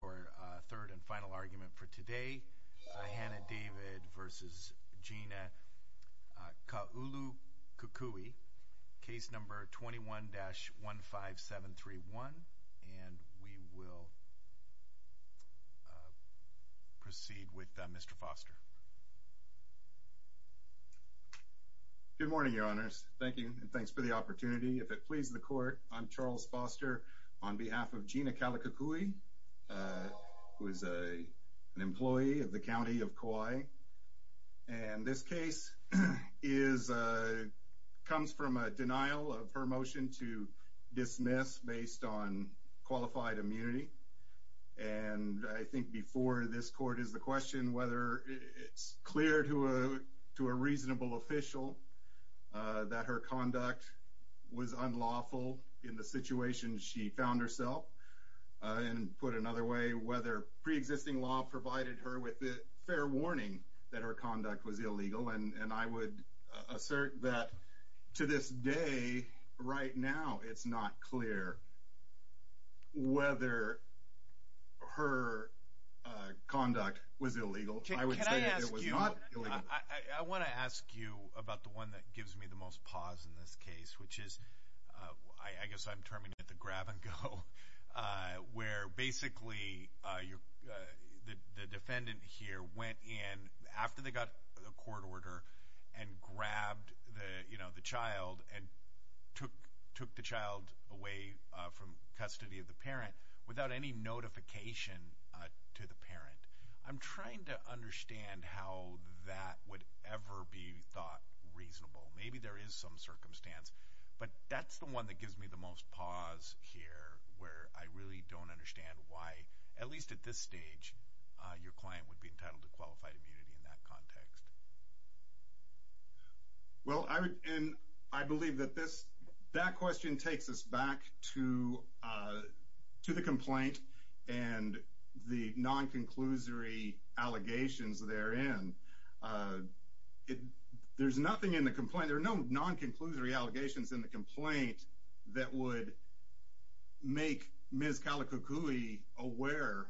for third and final argument for today Hannah David v. Gina Kaulukukui case number 21-15731 and we will proceed with Mr. Foster. Good morning your honors thank you and thanks for the opportunity if it pleases the court I'm who is a an employee of the County of Kauai and this case is comes from a denial of her motion to dismiss based on qualified immunity and I think before this court is the question whether it's clear to a to a reasonable official that her conduct was unlawful in the situation she found herself and put another way whether pre-existing law provided her with the fair warning that her conduct was illegal and and I would assert that to this day right now it's not clear whether her conduct was illegal. I want to ask you about the one that gives me the most pause in this case which is I guess I'm terming it the defendant here went in after they got a court order and grabbed the you know the child and took took the child away from custody of the parent without any notification to the parent I'm trying to understand how that would ever be thought reasonable maybe there is some circumstance but that's the one that at least at this stage your client would be entitled to qualified immunity in that context. Well I would and I believe that this that question takes us back to to the complaint and the non-conclusory allegations therein it there's nothing in the complaint there are no non-conclusory allegations in the where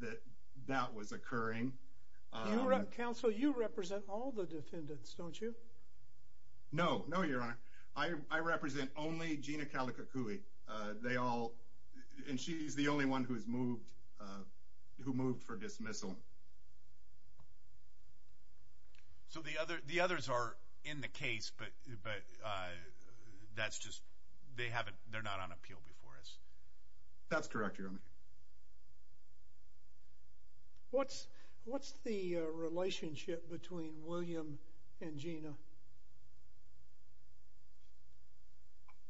that that was occurring. Council you represent all the defendants don't you? No no your honor I represent only Gina Calicacui they all and she's the only one who's moved who moved for dismissal. So the other the others are in the case but but that's just they haven't they're not on appeal before us. That's correct your honor. What's what's the relationship between William and Gina?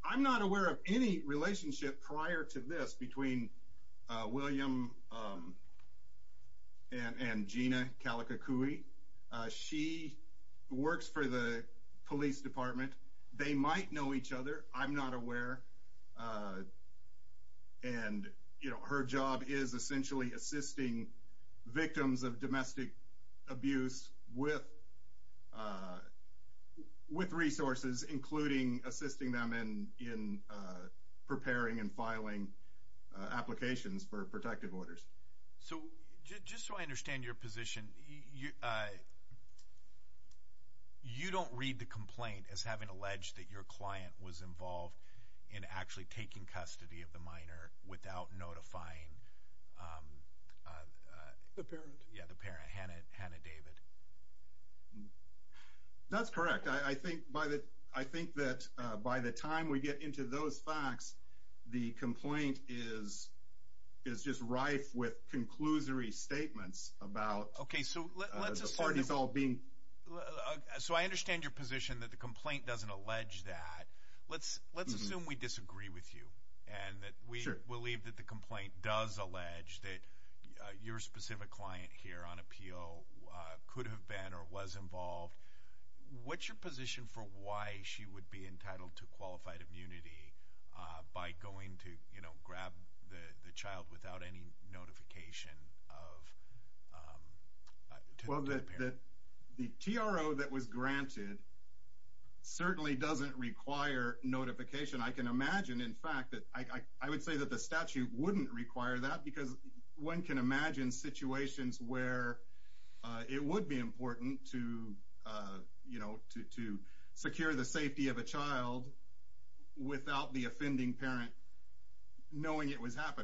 I'm not aware of any relationship prior to this between William and and Gina Calicacui she works for the police department they might know each other I'm not aware and you know her job is essentially assisting victims of domestic abuse with with resources including assisting them in in preparing and filing applications for protective orders. So just so I understand your position you you don't read the complaint as having alleged that your client was involved in actually taking custody of the minor without notifying the parent yeah the parent Hannah Hannah David. That's correct I think by that I think that by the time we get into those facts the complaint is is just rife with conclusory statements about the parties all being. So I understand your position that the complaint doesn't allege that let's let's assume we disagree with you and that we believe that the complaint does allege that your specific client here on appeal could have been or was involved what's your position for why she would be entitled to qualified immunity by going to you know grab the the child without any notification of well that the TRO that was granted certainly doesn't require notification I can imagine in fact that I would say that the statute wouldn't require that because one can imagine situations where it would be important to you know to to secure the safety of a child without the offending parent knowing it was however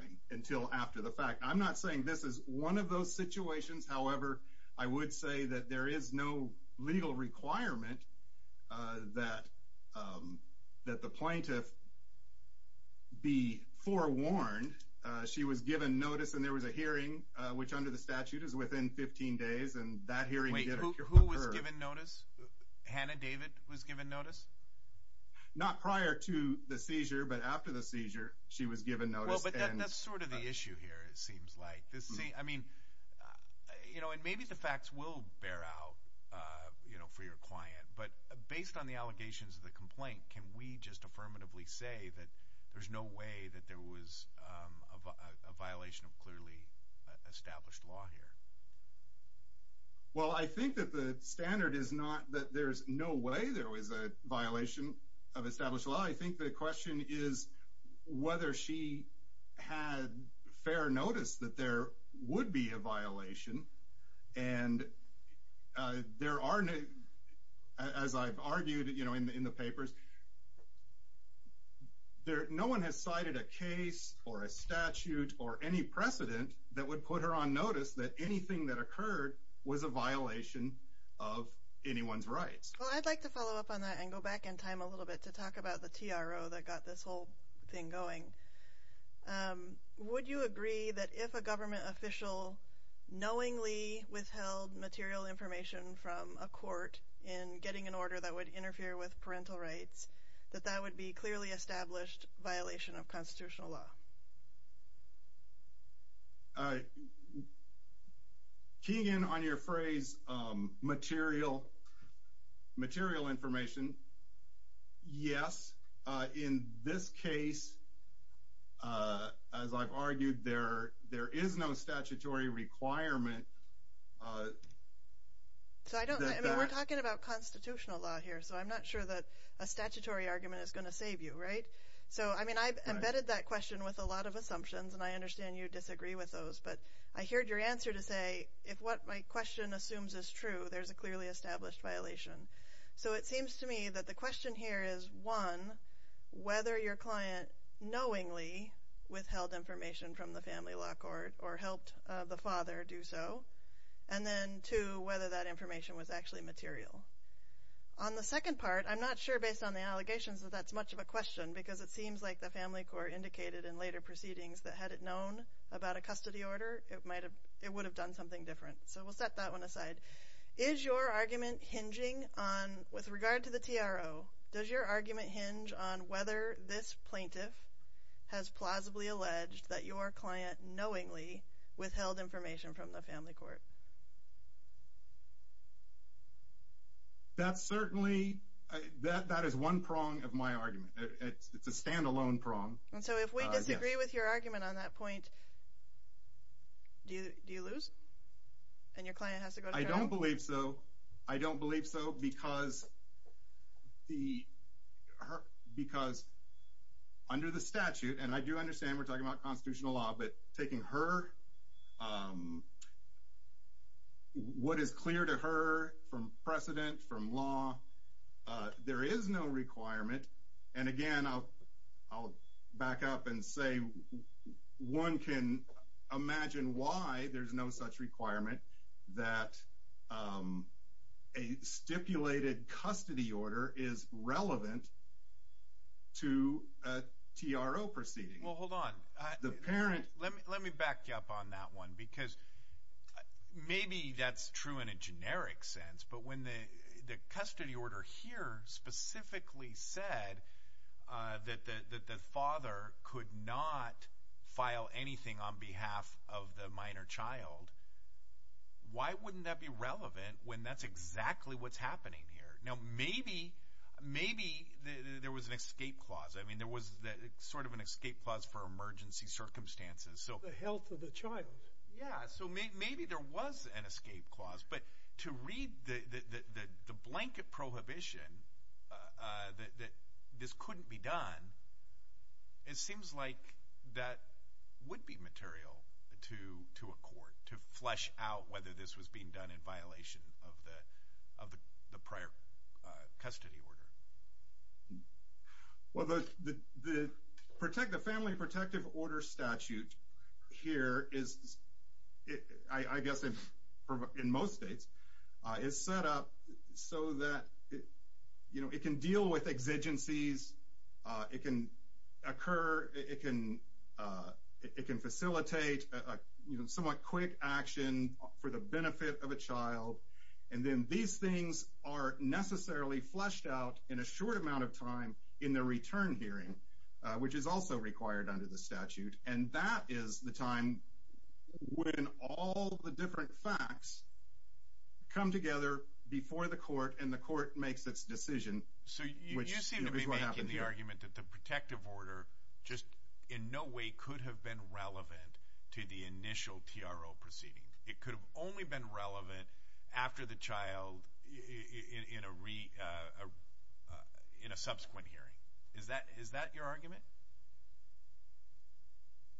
I would say that there is no legal requirement that that the plaintiff be forewarned she was given notice and there was a hearing which under the statute is within 15 days and that hearing notice Hannah David was given notice not prior to the seizure but after the seizure she was given notice that's sort of the issue here it seems like this see I mean you know and maybe the facts will bear out you know for your client but based on the allegations of the complaint can we just affirmatively say that there's no way that there was a violation of clearly established law here well I think that the standard is not that there's no way there was a violation of established law I think the question is whether she had fair notice that there would be a violation and there are no as I've argued you know in the papers there no one has cited a case or a statute or any precedent that would put her on notice that anything that occurred was a violation of anyone's rights I'd like to whole thing going would you agree that if a government official knowingly withheld material information from a court in getting an order that would interfere with parental rights that that would be clearly established violation of constitutional law all right keying in on your phrase material material information yes in this case as I've argued there there is no statutory requirement so I don't know we're talking about constitutional law here so I'm not sure that a statutory argument is going to save you right so I mean I've embedded that question with a lot of assumptions and I understand you disagree with those but I heard your answer to say if what my question assumes is true there's a clearly established violation so it seems to me that the question here is one whether your client knowingly withheld information from the family law court or helped the father do so and then to whether that information was actually material on the second part I'm not sure based on the allegations that that's much of a question because it seems like the family court indicated in later proceedings that had it known about a custody order it might have it would have done something different so we'll set that one aside is your argument hinging on with regard to the TRO does your argument hinge on whether this plaintiff has plausibly alleged that your client knowingly withheld information from the family court that's certainly that that is one prong of my argument it's a standalone prong and so I don't believe so I don't believe so because the because under the statute and I do understand we're talking about constitutional law but taking her what is clear to her from precedent from law there is no requirement and again I'll back up and say one can imagine why there's no such requirement that a stipulated custody order is relevant to TRO proceeding well hold on the parent let me back you up on that one because maybe that's true in a generic sense but when the custody order here specifically said that the father could not file anything on behalf of the minor child why wouldn't that be relevant when that's exactly what's happening here now maybe maybe there was an escape clause I mean there was that sort of an escape clause for emergency circumstances so yeah so maybe there was an escape clause but to read the the blanket prohibition that this couldn't be done it seems like that would be material to to a court to flesh out whether this was being done in violation of the of the prior custody order well the the protect the family protective order statute here is I guess if in most states is set up so that you know it can deal with exigencies it can occur it can it can facilitate a somewhat quick action for the benefit of in a short amount of time in the return hearing which is also required under the statute and that is the time when all the different facts come together before the court and the court makes its decision so you seem to be making the argument that the protective order just in no way could have been relevant to the initial TRO proceeding it could have only been relevant after the child in a in a subsequent hearing is that is that your argument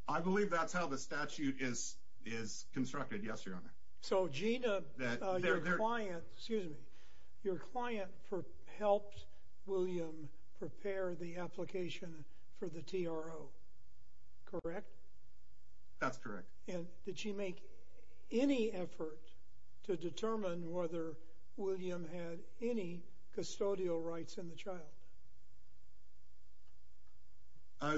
I believe that's how the statute is is constructed yes your honor so Gina their client excuse me your client for helped William prepare the application for the TRO correct that's any custodial rights in the child I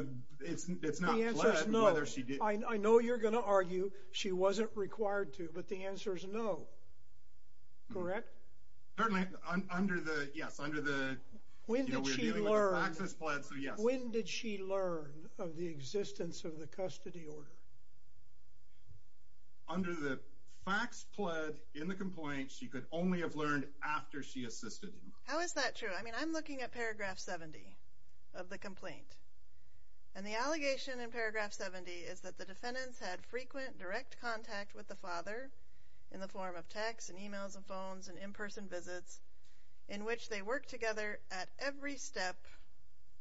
know you're gonna argue she wasn't required to but the answer is no when did she learn of the existence of the under the facts pled in the complaint she could only have learned after she assisted how is that true I mean I'm looking at paragraph 70 of the complaint and the allegation in paragraph 70 is that the defendants had frequent direct contact with the father in the form of text and emails and phones and in-person visits in which they work together at every step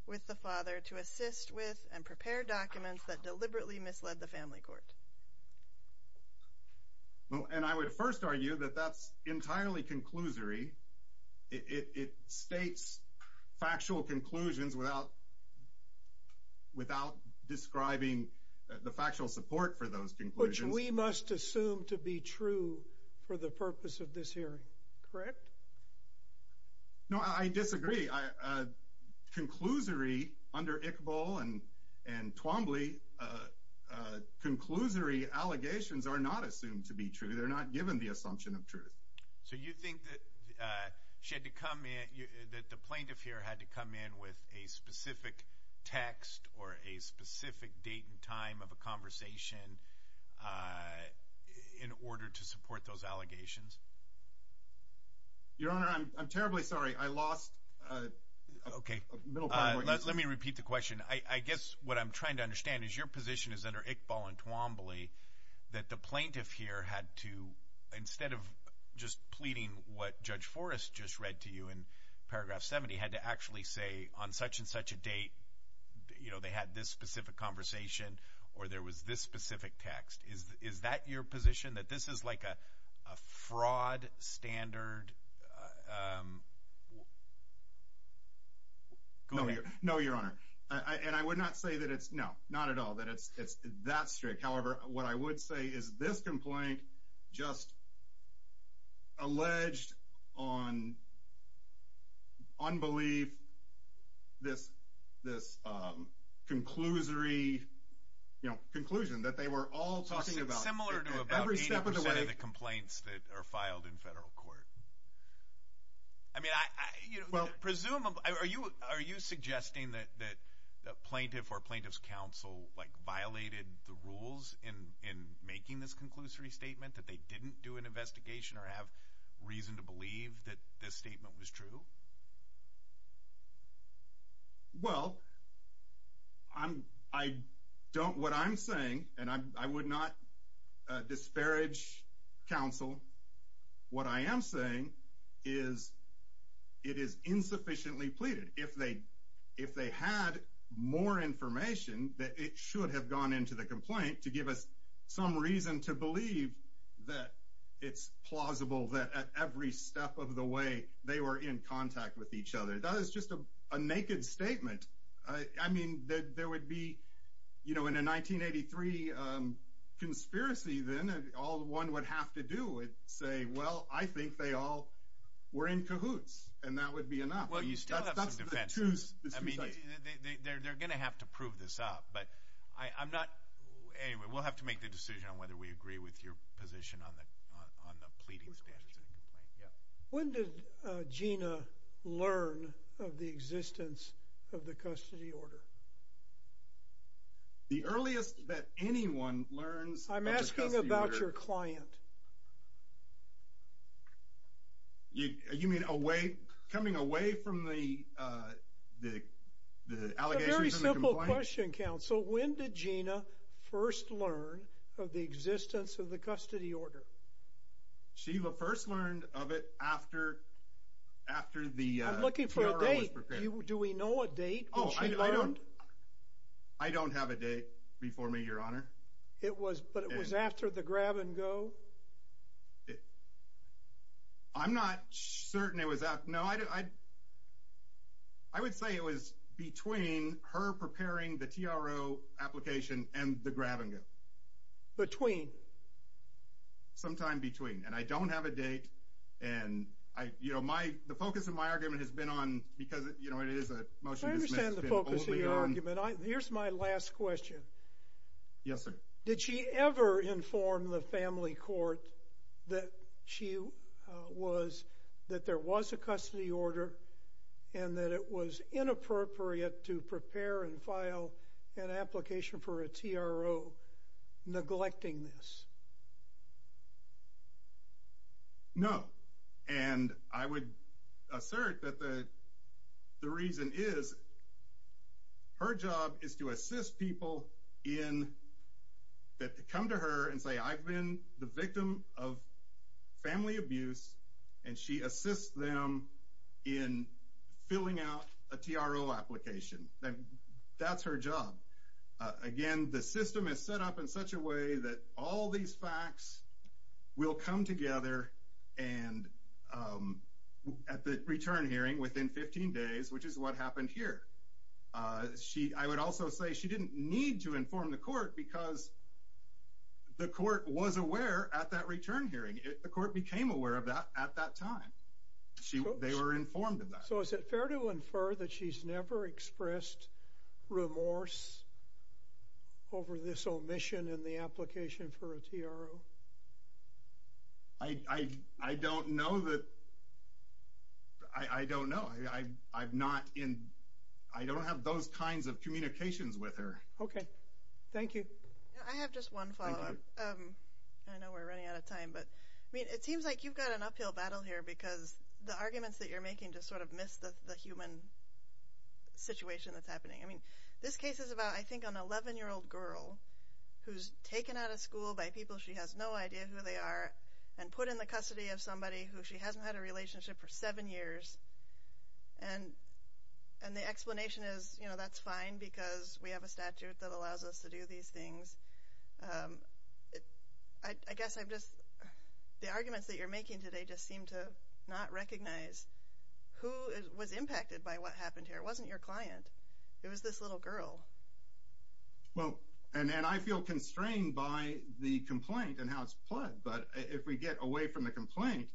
with the father to assist with and prepare documents that deliberately misled the family court well and I would first argue that that's entirely conclusory it states factual conclusions without without describing the factual support for those conclusion we must assume to be true for the purpose of this hearing correct no I disagree I conclusory under Iqbal and and Twombly conclusory allegations are not assumed to be true they're not given the assumption of truth so you think that she had to come in that the plaintiff here had to come in with a specific text or a specific date and time of a conversation in order to okay let me repeat the question I guess what I'm trying to understand is your position is under Iqbal and Twombly that the plaintiff here had to instead of just pleading what judge Forrest just read to you in paragraph 70 had to actually say on such and such a date you know they had this specific conversation or there was this specific text is is that your position that this is like a fraud standard no no your honor and I would not say that it's no not at all that it's it's that strict however what I would say is this complaint just alleged on unbelief this this conclusory you know conclusion that they were all talking about every step of the way the complaints that are filed in federal court I mean I well presume are you are you suggesting that that plaintiff or plaintiff's counsel like violated the rules in in making this conclusory statement that they didn't do an investigation or have reason to I would not disparage counsel what I am saying is it is insufficiently pleaded if they if they had more information that it should have gone into the complaint to give us some reason to believe that it's plausible that at every step of the way they were in contact with each other that is just a conspiracy then and all one would have to do it say well I think they all were in cahoots and that would be enough well you still have to prove this up but I'm not anyway we'll have to make the decision on whether we agree with your position on the on the pleading status when did Gina learn of the existence of I'm asking about your client you mean away coming away from the very simple question counsel when did Gina first learn of the existence of the custody order she will first learned of it after after the looking for a date do we know what date I don't have a date before me your honor it was but it was after the grab-and-go I'm not certain it was that no I I would say it was between her preparing the TRO application and the grab-and-go between sometime between and I don't have a date and I you know my the focus of my argument has been on here's my last question yes sir did she ever inform the family court that she was that there was a custody order and that it was inappropriate to prepare and an application for a TRO neglecting this no and I would assert that the the reason is her job is to assist people in that come to her and say I've been the victim of family abuse and she assists them in filling out a TRO application that's her job again the system is set up in such a way that all these facts will come together and at the return hearing within 15 days which is what happened here she I would also say she didn't need to inform the court because the court was aware at that return hearing it the court became aware of that at that time she they were informed so is it fair to infer that she's never expressed remorse over this omission in the application for a TRO I I don't know that I don't know I I've not in I don't have those kinds of communications with her okay thank you I have just one father I know we're running out of time but I mean it seems like you've got an uphill battle here because the arguments that you're making just sort of miss the human situation that's happening I mean this case is about I think an 11 year old girl who's taken out of school by people she has no idea who they are and put in the custody of somebody who she hasn't had a relationship for seven years and and the explanation is you know that's fine because we have a statute that allows us to do these things I guess I've just the arguments that you're making today just seem to not recognize who was impacted by what happened here it wasn't your client it was this little girl well and then I feel constrained by the complaint and how it's plugged but if we get away from the complaint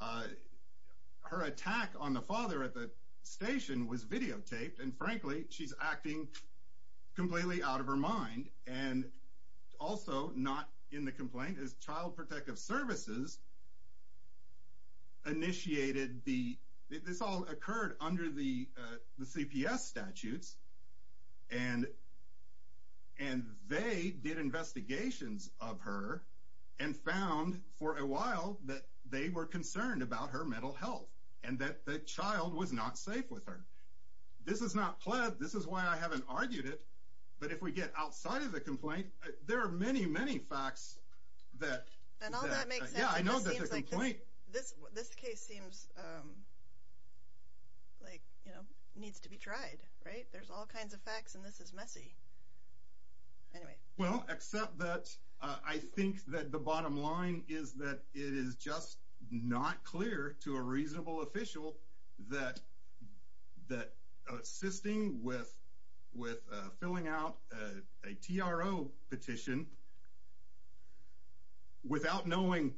her attack on the father at the station was videotaped and frankly she's acting completely out of initiated the this all occurred under the the CPS statutes and and they did investigations of her and found for a while that they were concerned about her mental health and that the child was not safe with her this is not pled this is why I haven't argued it but if we get outside of the complaint there are many many facts that this case seems like you know needs to be tried right there's all kinds of facts and this is messy well except that I think that the bottom line is that it is just not clear to a reasonable official that that assisting with with filling out a TRO petition without knowing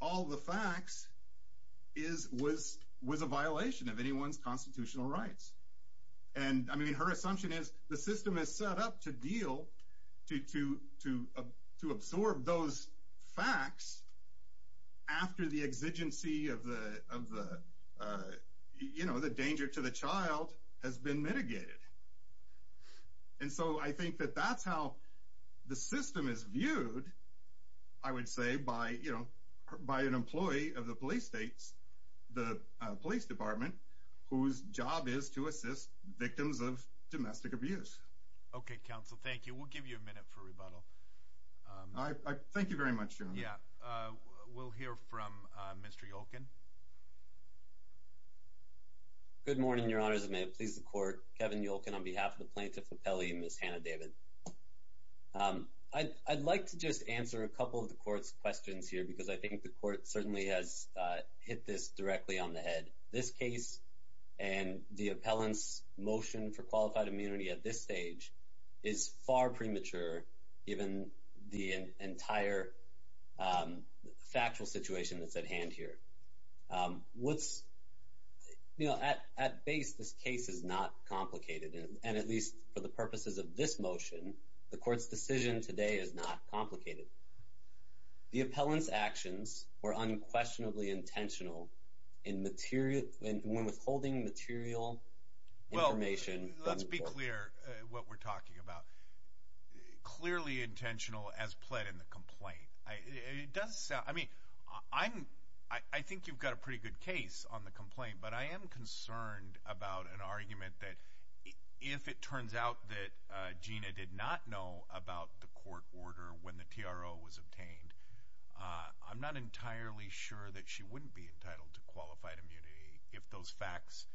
all the facts is was was a violation of anyone's constitutional rights and I mean her assumption is the system is set up to deal to to to to absorb those facts after the exigency of the you know the danger to the child has been mitigated and so I think that that's how the system is viewed I would say by you know by an employee of the police states the police department whose job is to assist victims of domestic abuse okay counsel thank you we'll give you a minute for rebuttal I thank you very much yeah we'll hear from mr. Yolkin good morning your honors may it please the court Kevin Yolkin on behalf of the plaintiff appellee miss Hannah David I'd like to just answer a couple of the court's questions here because I think the court certainly has hit this directly on the head this case and the appellants motion for qualified immunity at this stage is far premature given the entire factual situation that's at hand here what's you know at at base this case is not complicated and at least for the purposes of this motion the court's decision today is not complicated the appellants actions were unquestionably intentional in material and when withholding material well let's be clear what we're talking about clearly intentional as pled in the complaint I it does sound I mean I'm I think you've got a pretty good case on the complaint but I am concerned about an argument that if it turns out that Gina did not know about the court order when the TRO was obtained I'm not entirely sure that she wouldn't be entitled to qualified immunity if those facts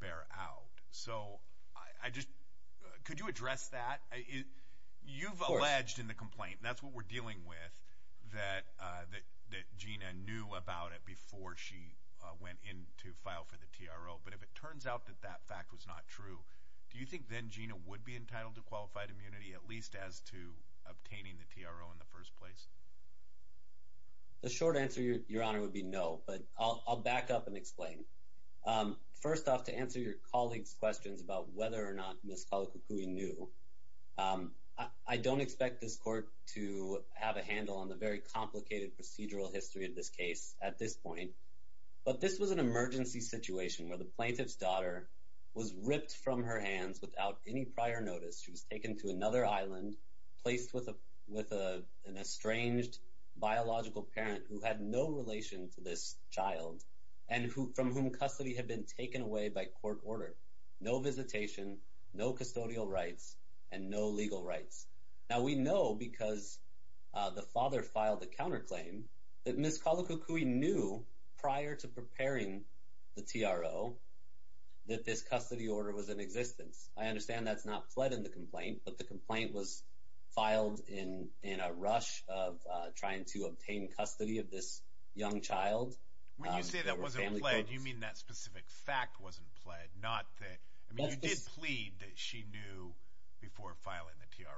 bear out so I just could you address that you've alleged in the complaint that's what we're dealing with that that Gina knew about it before she went in to file for the TRO but if it turns out that that fact was not true do you think then Gina would be entitled to qualified immunity at least as to obtaining the TRO in the first place the short answer your honor would be no but I'll back up and explain first off to answer your colleagues questions about whether or not miss Kala Kukui knew I don't expect this court to have a handle on the very complicated procedural history of this case at this point but this was an emergency situation where the plaintiff's daughter was ripped from her hands without any prior notice she was taken to another island placed with an estranged biological parent who had no relation to this child and who from whom custody had been taken away by court order no visitation no custodial rights and no legal rights now we know because the father filed the counter claim that miss Kala Kukui knew prior to preparing the TRO that this custody order was in existence I understand that's not fled in the complaint but the in in a rush of trying to obtain custody of this young child when you say that wasn't played you mean that specific fact wasn't played not that I mean you did plead that she knew before filing the TRO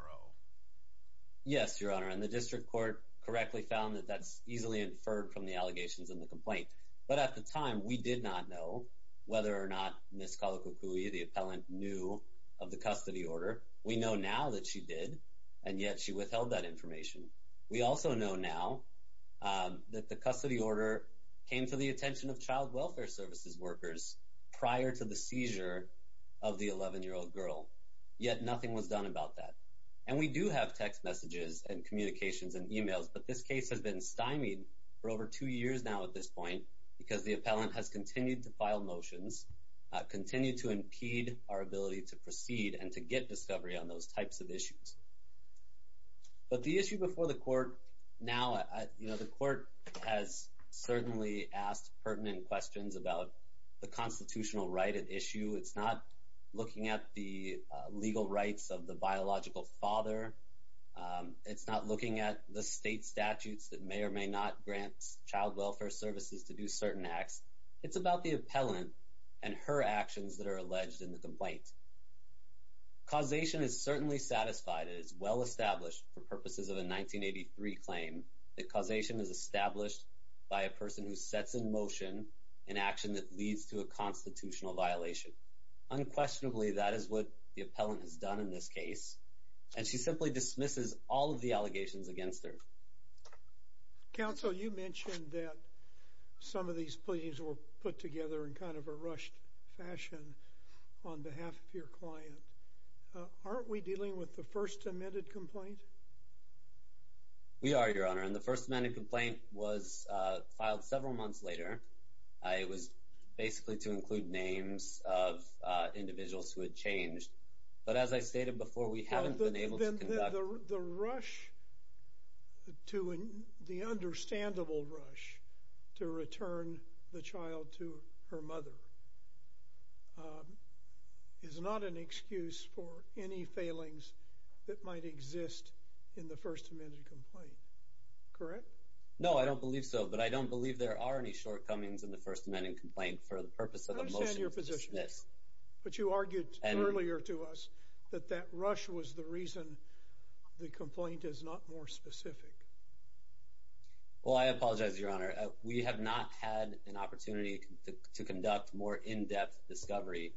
yes your honor and the district court correctly found that that's easily inferred from the allegations in the complaint but at the time we did not know whether or not miss Kala Kukui the appellant knew of the custody order we know now that she did and yet she withheld that information we also know now that the custody order came to the attention of child welfare services workers prior to the seizure of the 11 year old girl yet nothing was done about that and we do have text messages and communications and emails but this case has been stymied for over two years now at this point because the appellant has continued to file motions continue to impede our ability to proceed and to get discovery on those types of issues but the issue before the court now you know the court has certainly asked pertinent questions about the constitutional right at issue it's not looking at the legal rights of the biological father it's not looking at the state statutes that may or may not grant child welfare services to do certain acts it's about the appellant and her actions that are alleged in the well-established purposes of the 1983 claim the causation is established by a person who sets in motion an action that leads to a constitutional violation unquestionably that is what the appellant has done in this case and she simply dismisses all of the allegations against their counsel you mentioned that some of these please were put together in kind of a rushed fashion on behalf of first-amended complaint we are your honor and the first minute complaint was filed several months later I was basically to include names of individuals who had changed but as I stated before we haven't been able to the rush to in the understandable rush to return the child to her mother is not an excuse for any failings that might exist in the first-amended complaint correct no I don't believe so but I don't believe there are any shortcomings in the first amendment complaint for the purpose of your position but you argued earlier to us that that rush was the reason the complaint is not more specific well I apologize your honor we have not had an opportunity to conduct more in-depth discovery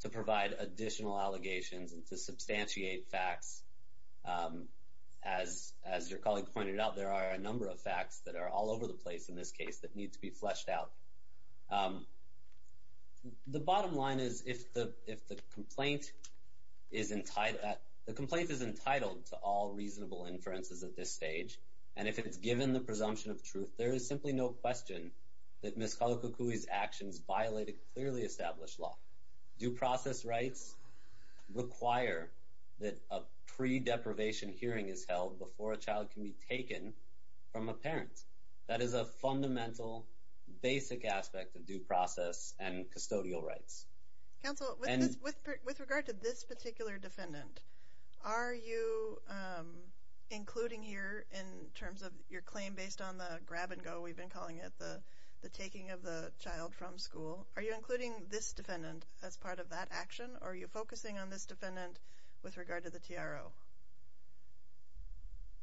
to provide additional allegations and to substantiate facts as as your colleague pointed out there are a number of facts that are all over the place in this case that needs to be fleshed out the bottom line is if the if the complaint is entitled the complaint is entitled to all reasonable inferences at this stage and if it's given the presumption of question that miscalculations actions violated clearly established law due process rights require that a pre-deprivation hearing is held before a child can be taken from a parent that is a fundamental basic aspect of due process and custodial rights counsel with regard to this particular defendant are you including here in terms of your claim based on the grab-and-go we've calling it the the taking of the child from school are you including this defendant as part of that action are you focusing on this defendant with regard to the TRO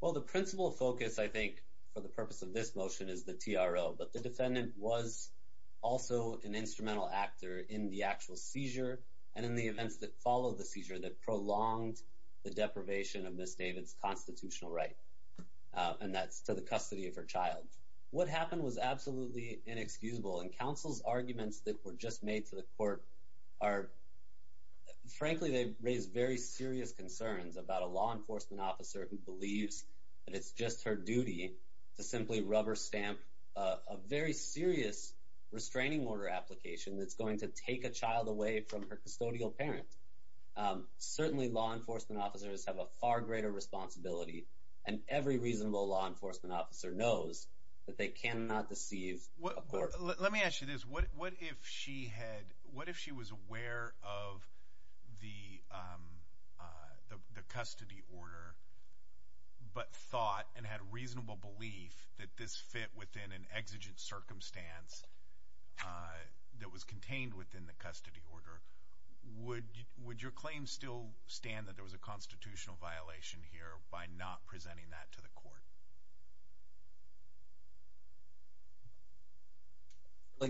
well the principal focus I think for the purpose of this motion is the TRO but the defendant was also an instrumental actor in the actual seizure and in the events that follow the seizure that prolonged the deprivation of miss David's constitutional right and that's to the custody of her child what happened was absolutely inexcusable and counsel's arguments that were just made to the court are frankly they raise very serious concerns about a law enforcement officer who believes and it's just her duty to simply rubber stamp a very serious restraining order application that's going to take a child away from her custodial parent certainly law enforcement officers have a far greater responsibility and every reasonable law enforcement officer knows that they cannot deceive what let me ask you this what what if she had what if she was aware of the the custody order but thought and had reasonable belief that this fit within an exigent circumstance that was contained within the custody order would would your claim still stand that there was a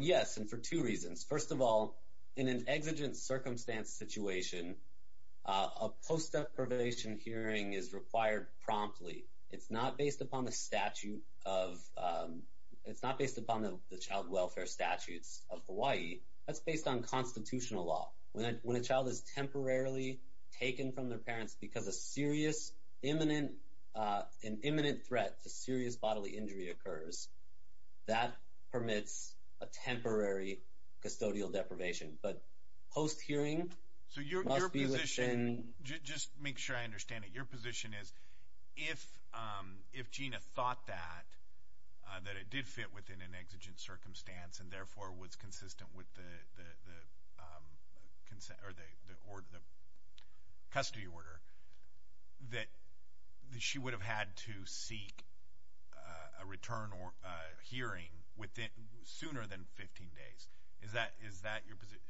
yes and for two reasons first of all in an exigent circumstance situation a post-deprivation hearing is required promptly it's not based upon the statute of it's not based upon the child welfare statutes of Hawaii that's based on constitutional law when a child is temporarily taken from their parents because a serious imminent imminent threat to serious bodily injury occurs that permits a temporary custodial deprivation but post-hearing so you're a musician just make sure I understand it your position is if if Gina thought that that it did fit within an exigent circumstance and therefore was that she would have had to seek a return or hearing within sooner than 15 days is that is that your position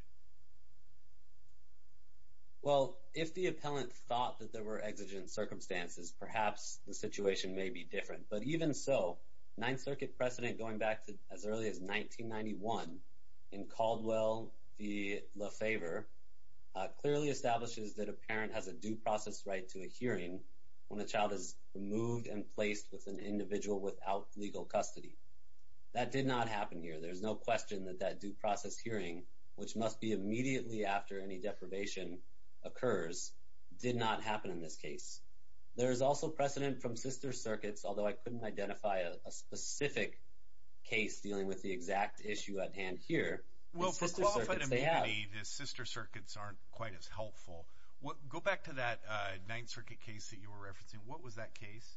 well if the appellant thought that there were exigent circumstances perhaps the situation may be different but even so Ninth Circuit precedent going back to as early as 1991 in Caldwell the favor clearly establishes that a parent has a due process right to a hearing when a child is moved and placed with an individual without legal custody that did not happen here there's no question that that due process hearing which must be immediately after any deprivation occurs did not happen in this case there is also precedent from sister circuits although I couldn't identify a specific case dealing with the exact issue at hand here well for qualified sister circuits aren't quite as helpful what go back to that Ninth Circuit case that you were referencing what was that case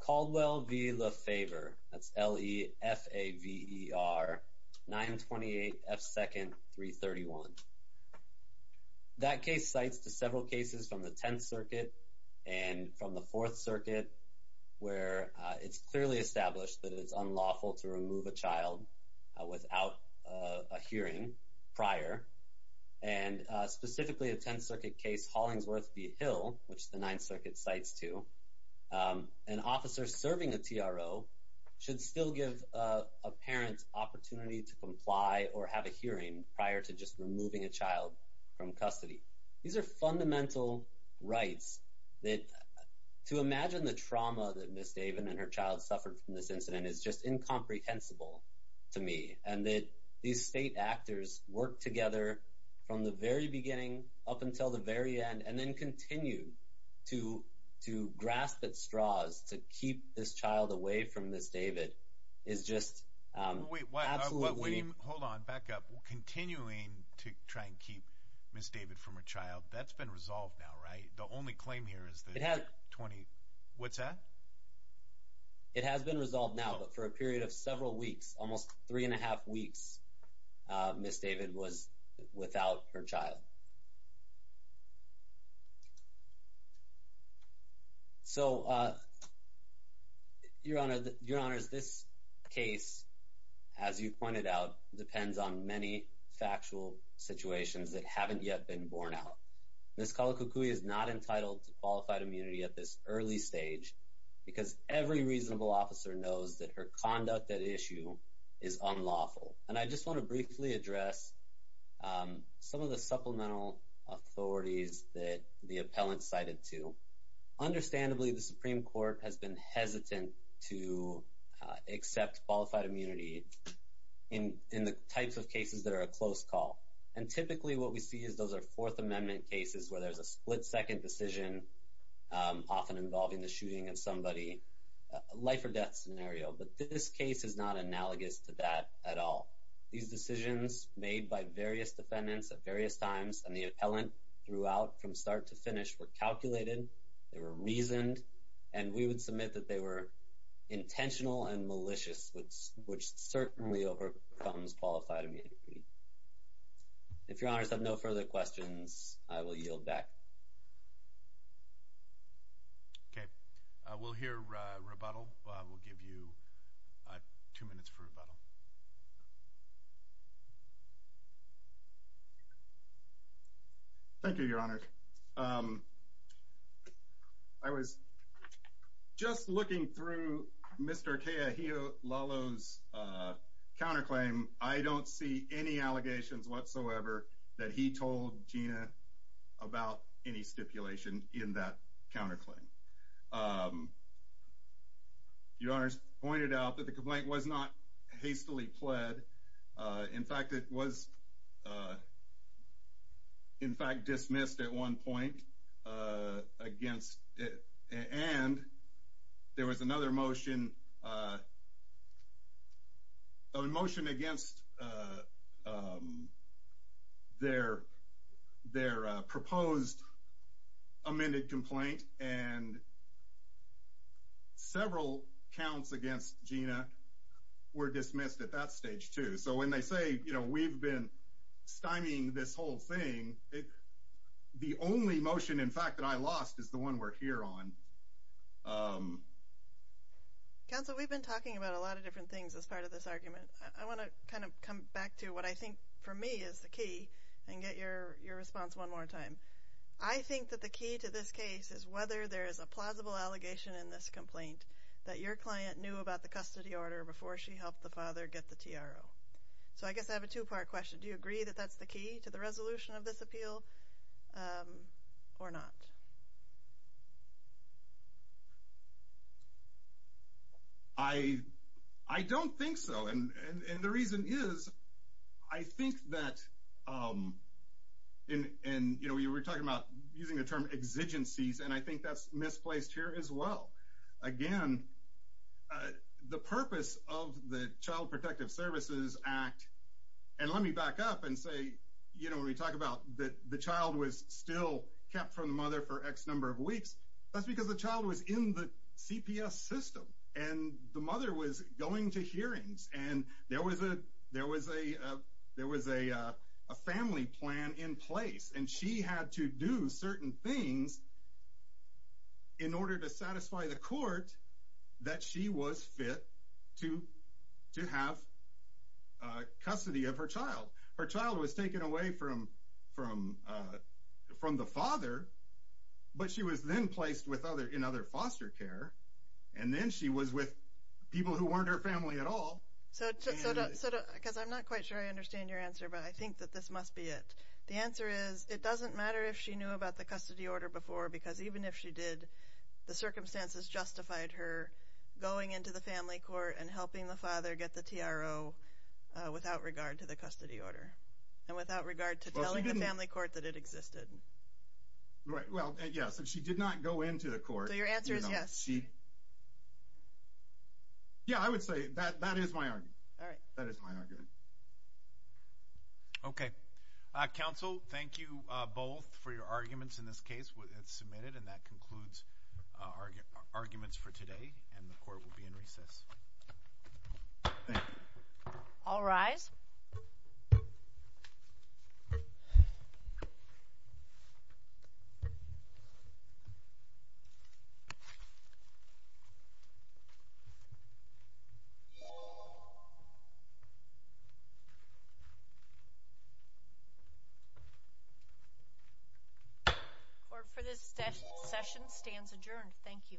Caldwell be the favor that's le f a ver 928 f second 331 that case cites to several cases from the 10th Circuit and from the 4th Circuit where it's clearly established that it's unlawful to remove a child without a hearing prior and specifically a 10th Circuit case Hollingsworth v. Hill which the 9th Circuit cites to an officer serving a TRO should still give a parent opportunity to comply or have a hearing prior to just removing a child from custody these are fundamental rights that to imagine the trauma that miss Daven and her child suffered from this to me and that these state actors work together from the very beginning up until the very end and then continue to to grasp at straws to keep this child away from this David is just continuing to try and keep miss David from a child that's been resolved now right the only claim here is that had 20 what's that it has been resolved now but for a period of several weeks almost three and a half weeks miss David was without her child so your honor your honors this case as you pointed out depends on many factual situations that haven't yet been borne out this color cuckoo is not entitled to qualified immunity at this early stage because every reasonable officer knows that her conduct that issue is unlawful and I just want to briefly address some of the supplemental authorities that the appellant cited to understandably the Supreme Court has been hesitant to accept qualified immunity in in the types of cases that are a close call and typically what we see is those are Fourth Amendment cases where there's a split-second decision often involving the shooting of somebody life-or-death scenario but this case is not analogous to that at all these decisions made by various defendants at various times and the appellant throughout from start to finish were calculated they were reasoned and we would submit that they were intentional and malicious which which certainly overcomes qualified immunity if your honors have no further questions I will yield back okay we'll hear rebuttal I will give you two minutes for rebuttal thank you your honor I was just looking through mr. Kea he Lalo's counterclaim I don't see any allegations whatsoever that he told Gina about any stipulation in that counterclaim your honors pointed out that the complaint was not hastily pled in fact it was in fact dismissed at one point against it and there was another motion a motion against their their proposed amended complaint and several counts against Gina were dismissed at that stage too so when they say you know we've been stymieing this whole thing the only motion in fact that I lost is the one we're here on council we've been talking about a lot of different things as part of this argument I want to kind of come back to what I think for me is the key and get your response one more time I think that the key to this case is whether there is a plausible allegation in this complaint that your client knew about the custody order before she helped the father get the TRO so I guess I have a two-part question do you agree that that's the to the resolution of this appeal or not I I don't think so and and the reason is I think that in and you know we were talking about using the term exigencies and I think that's misplaced here as well again the purpose of the Child you know when we talk about that the child was still kept from the mother for X number of weeks that's because the child was in the CPS system and the mother was going to hearings and there was a there was a there was a family plan in place and she had to do certain things in order to satisfy the court that she was fit to to have custody of her child her child was taken away from from from the father but she was then placed with other in other foster care and then she was with people who weren't her family at all so because I'm not quite sure I understand your answer but I think that this must be it the answer is it doesn't matter if she knew about the custody order before because even if she did the circumstances justified her going into the family court and helping the father get the TRO without regard to the custody order and without regard to telling the family court that it existed right well yeah so she did not go into the court your answer is yes she yeah I would say that that is my argument all right that is my argument okay counsel thank you both for your arguments in this case with it submitted and that concludes our arguments for today and the court will be in recess all rise for this session stands adjourned thank you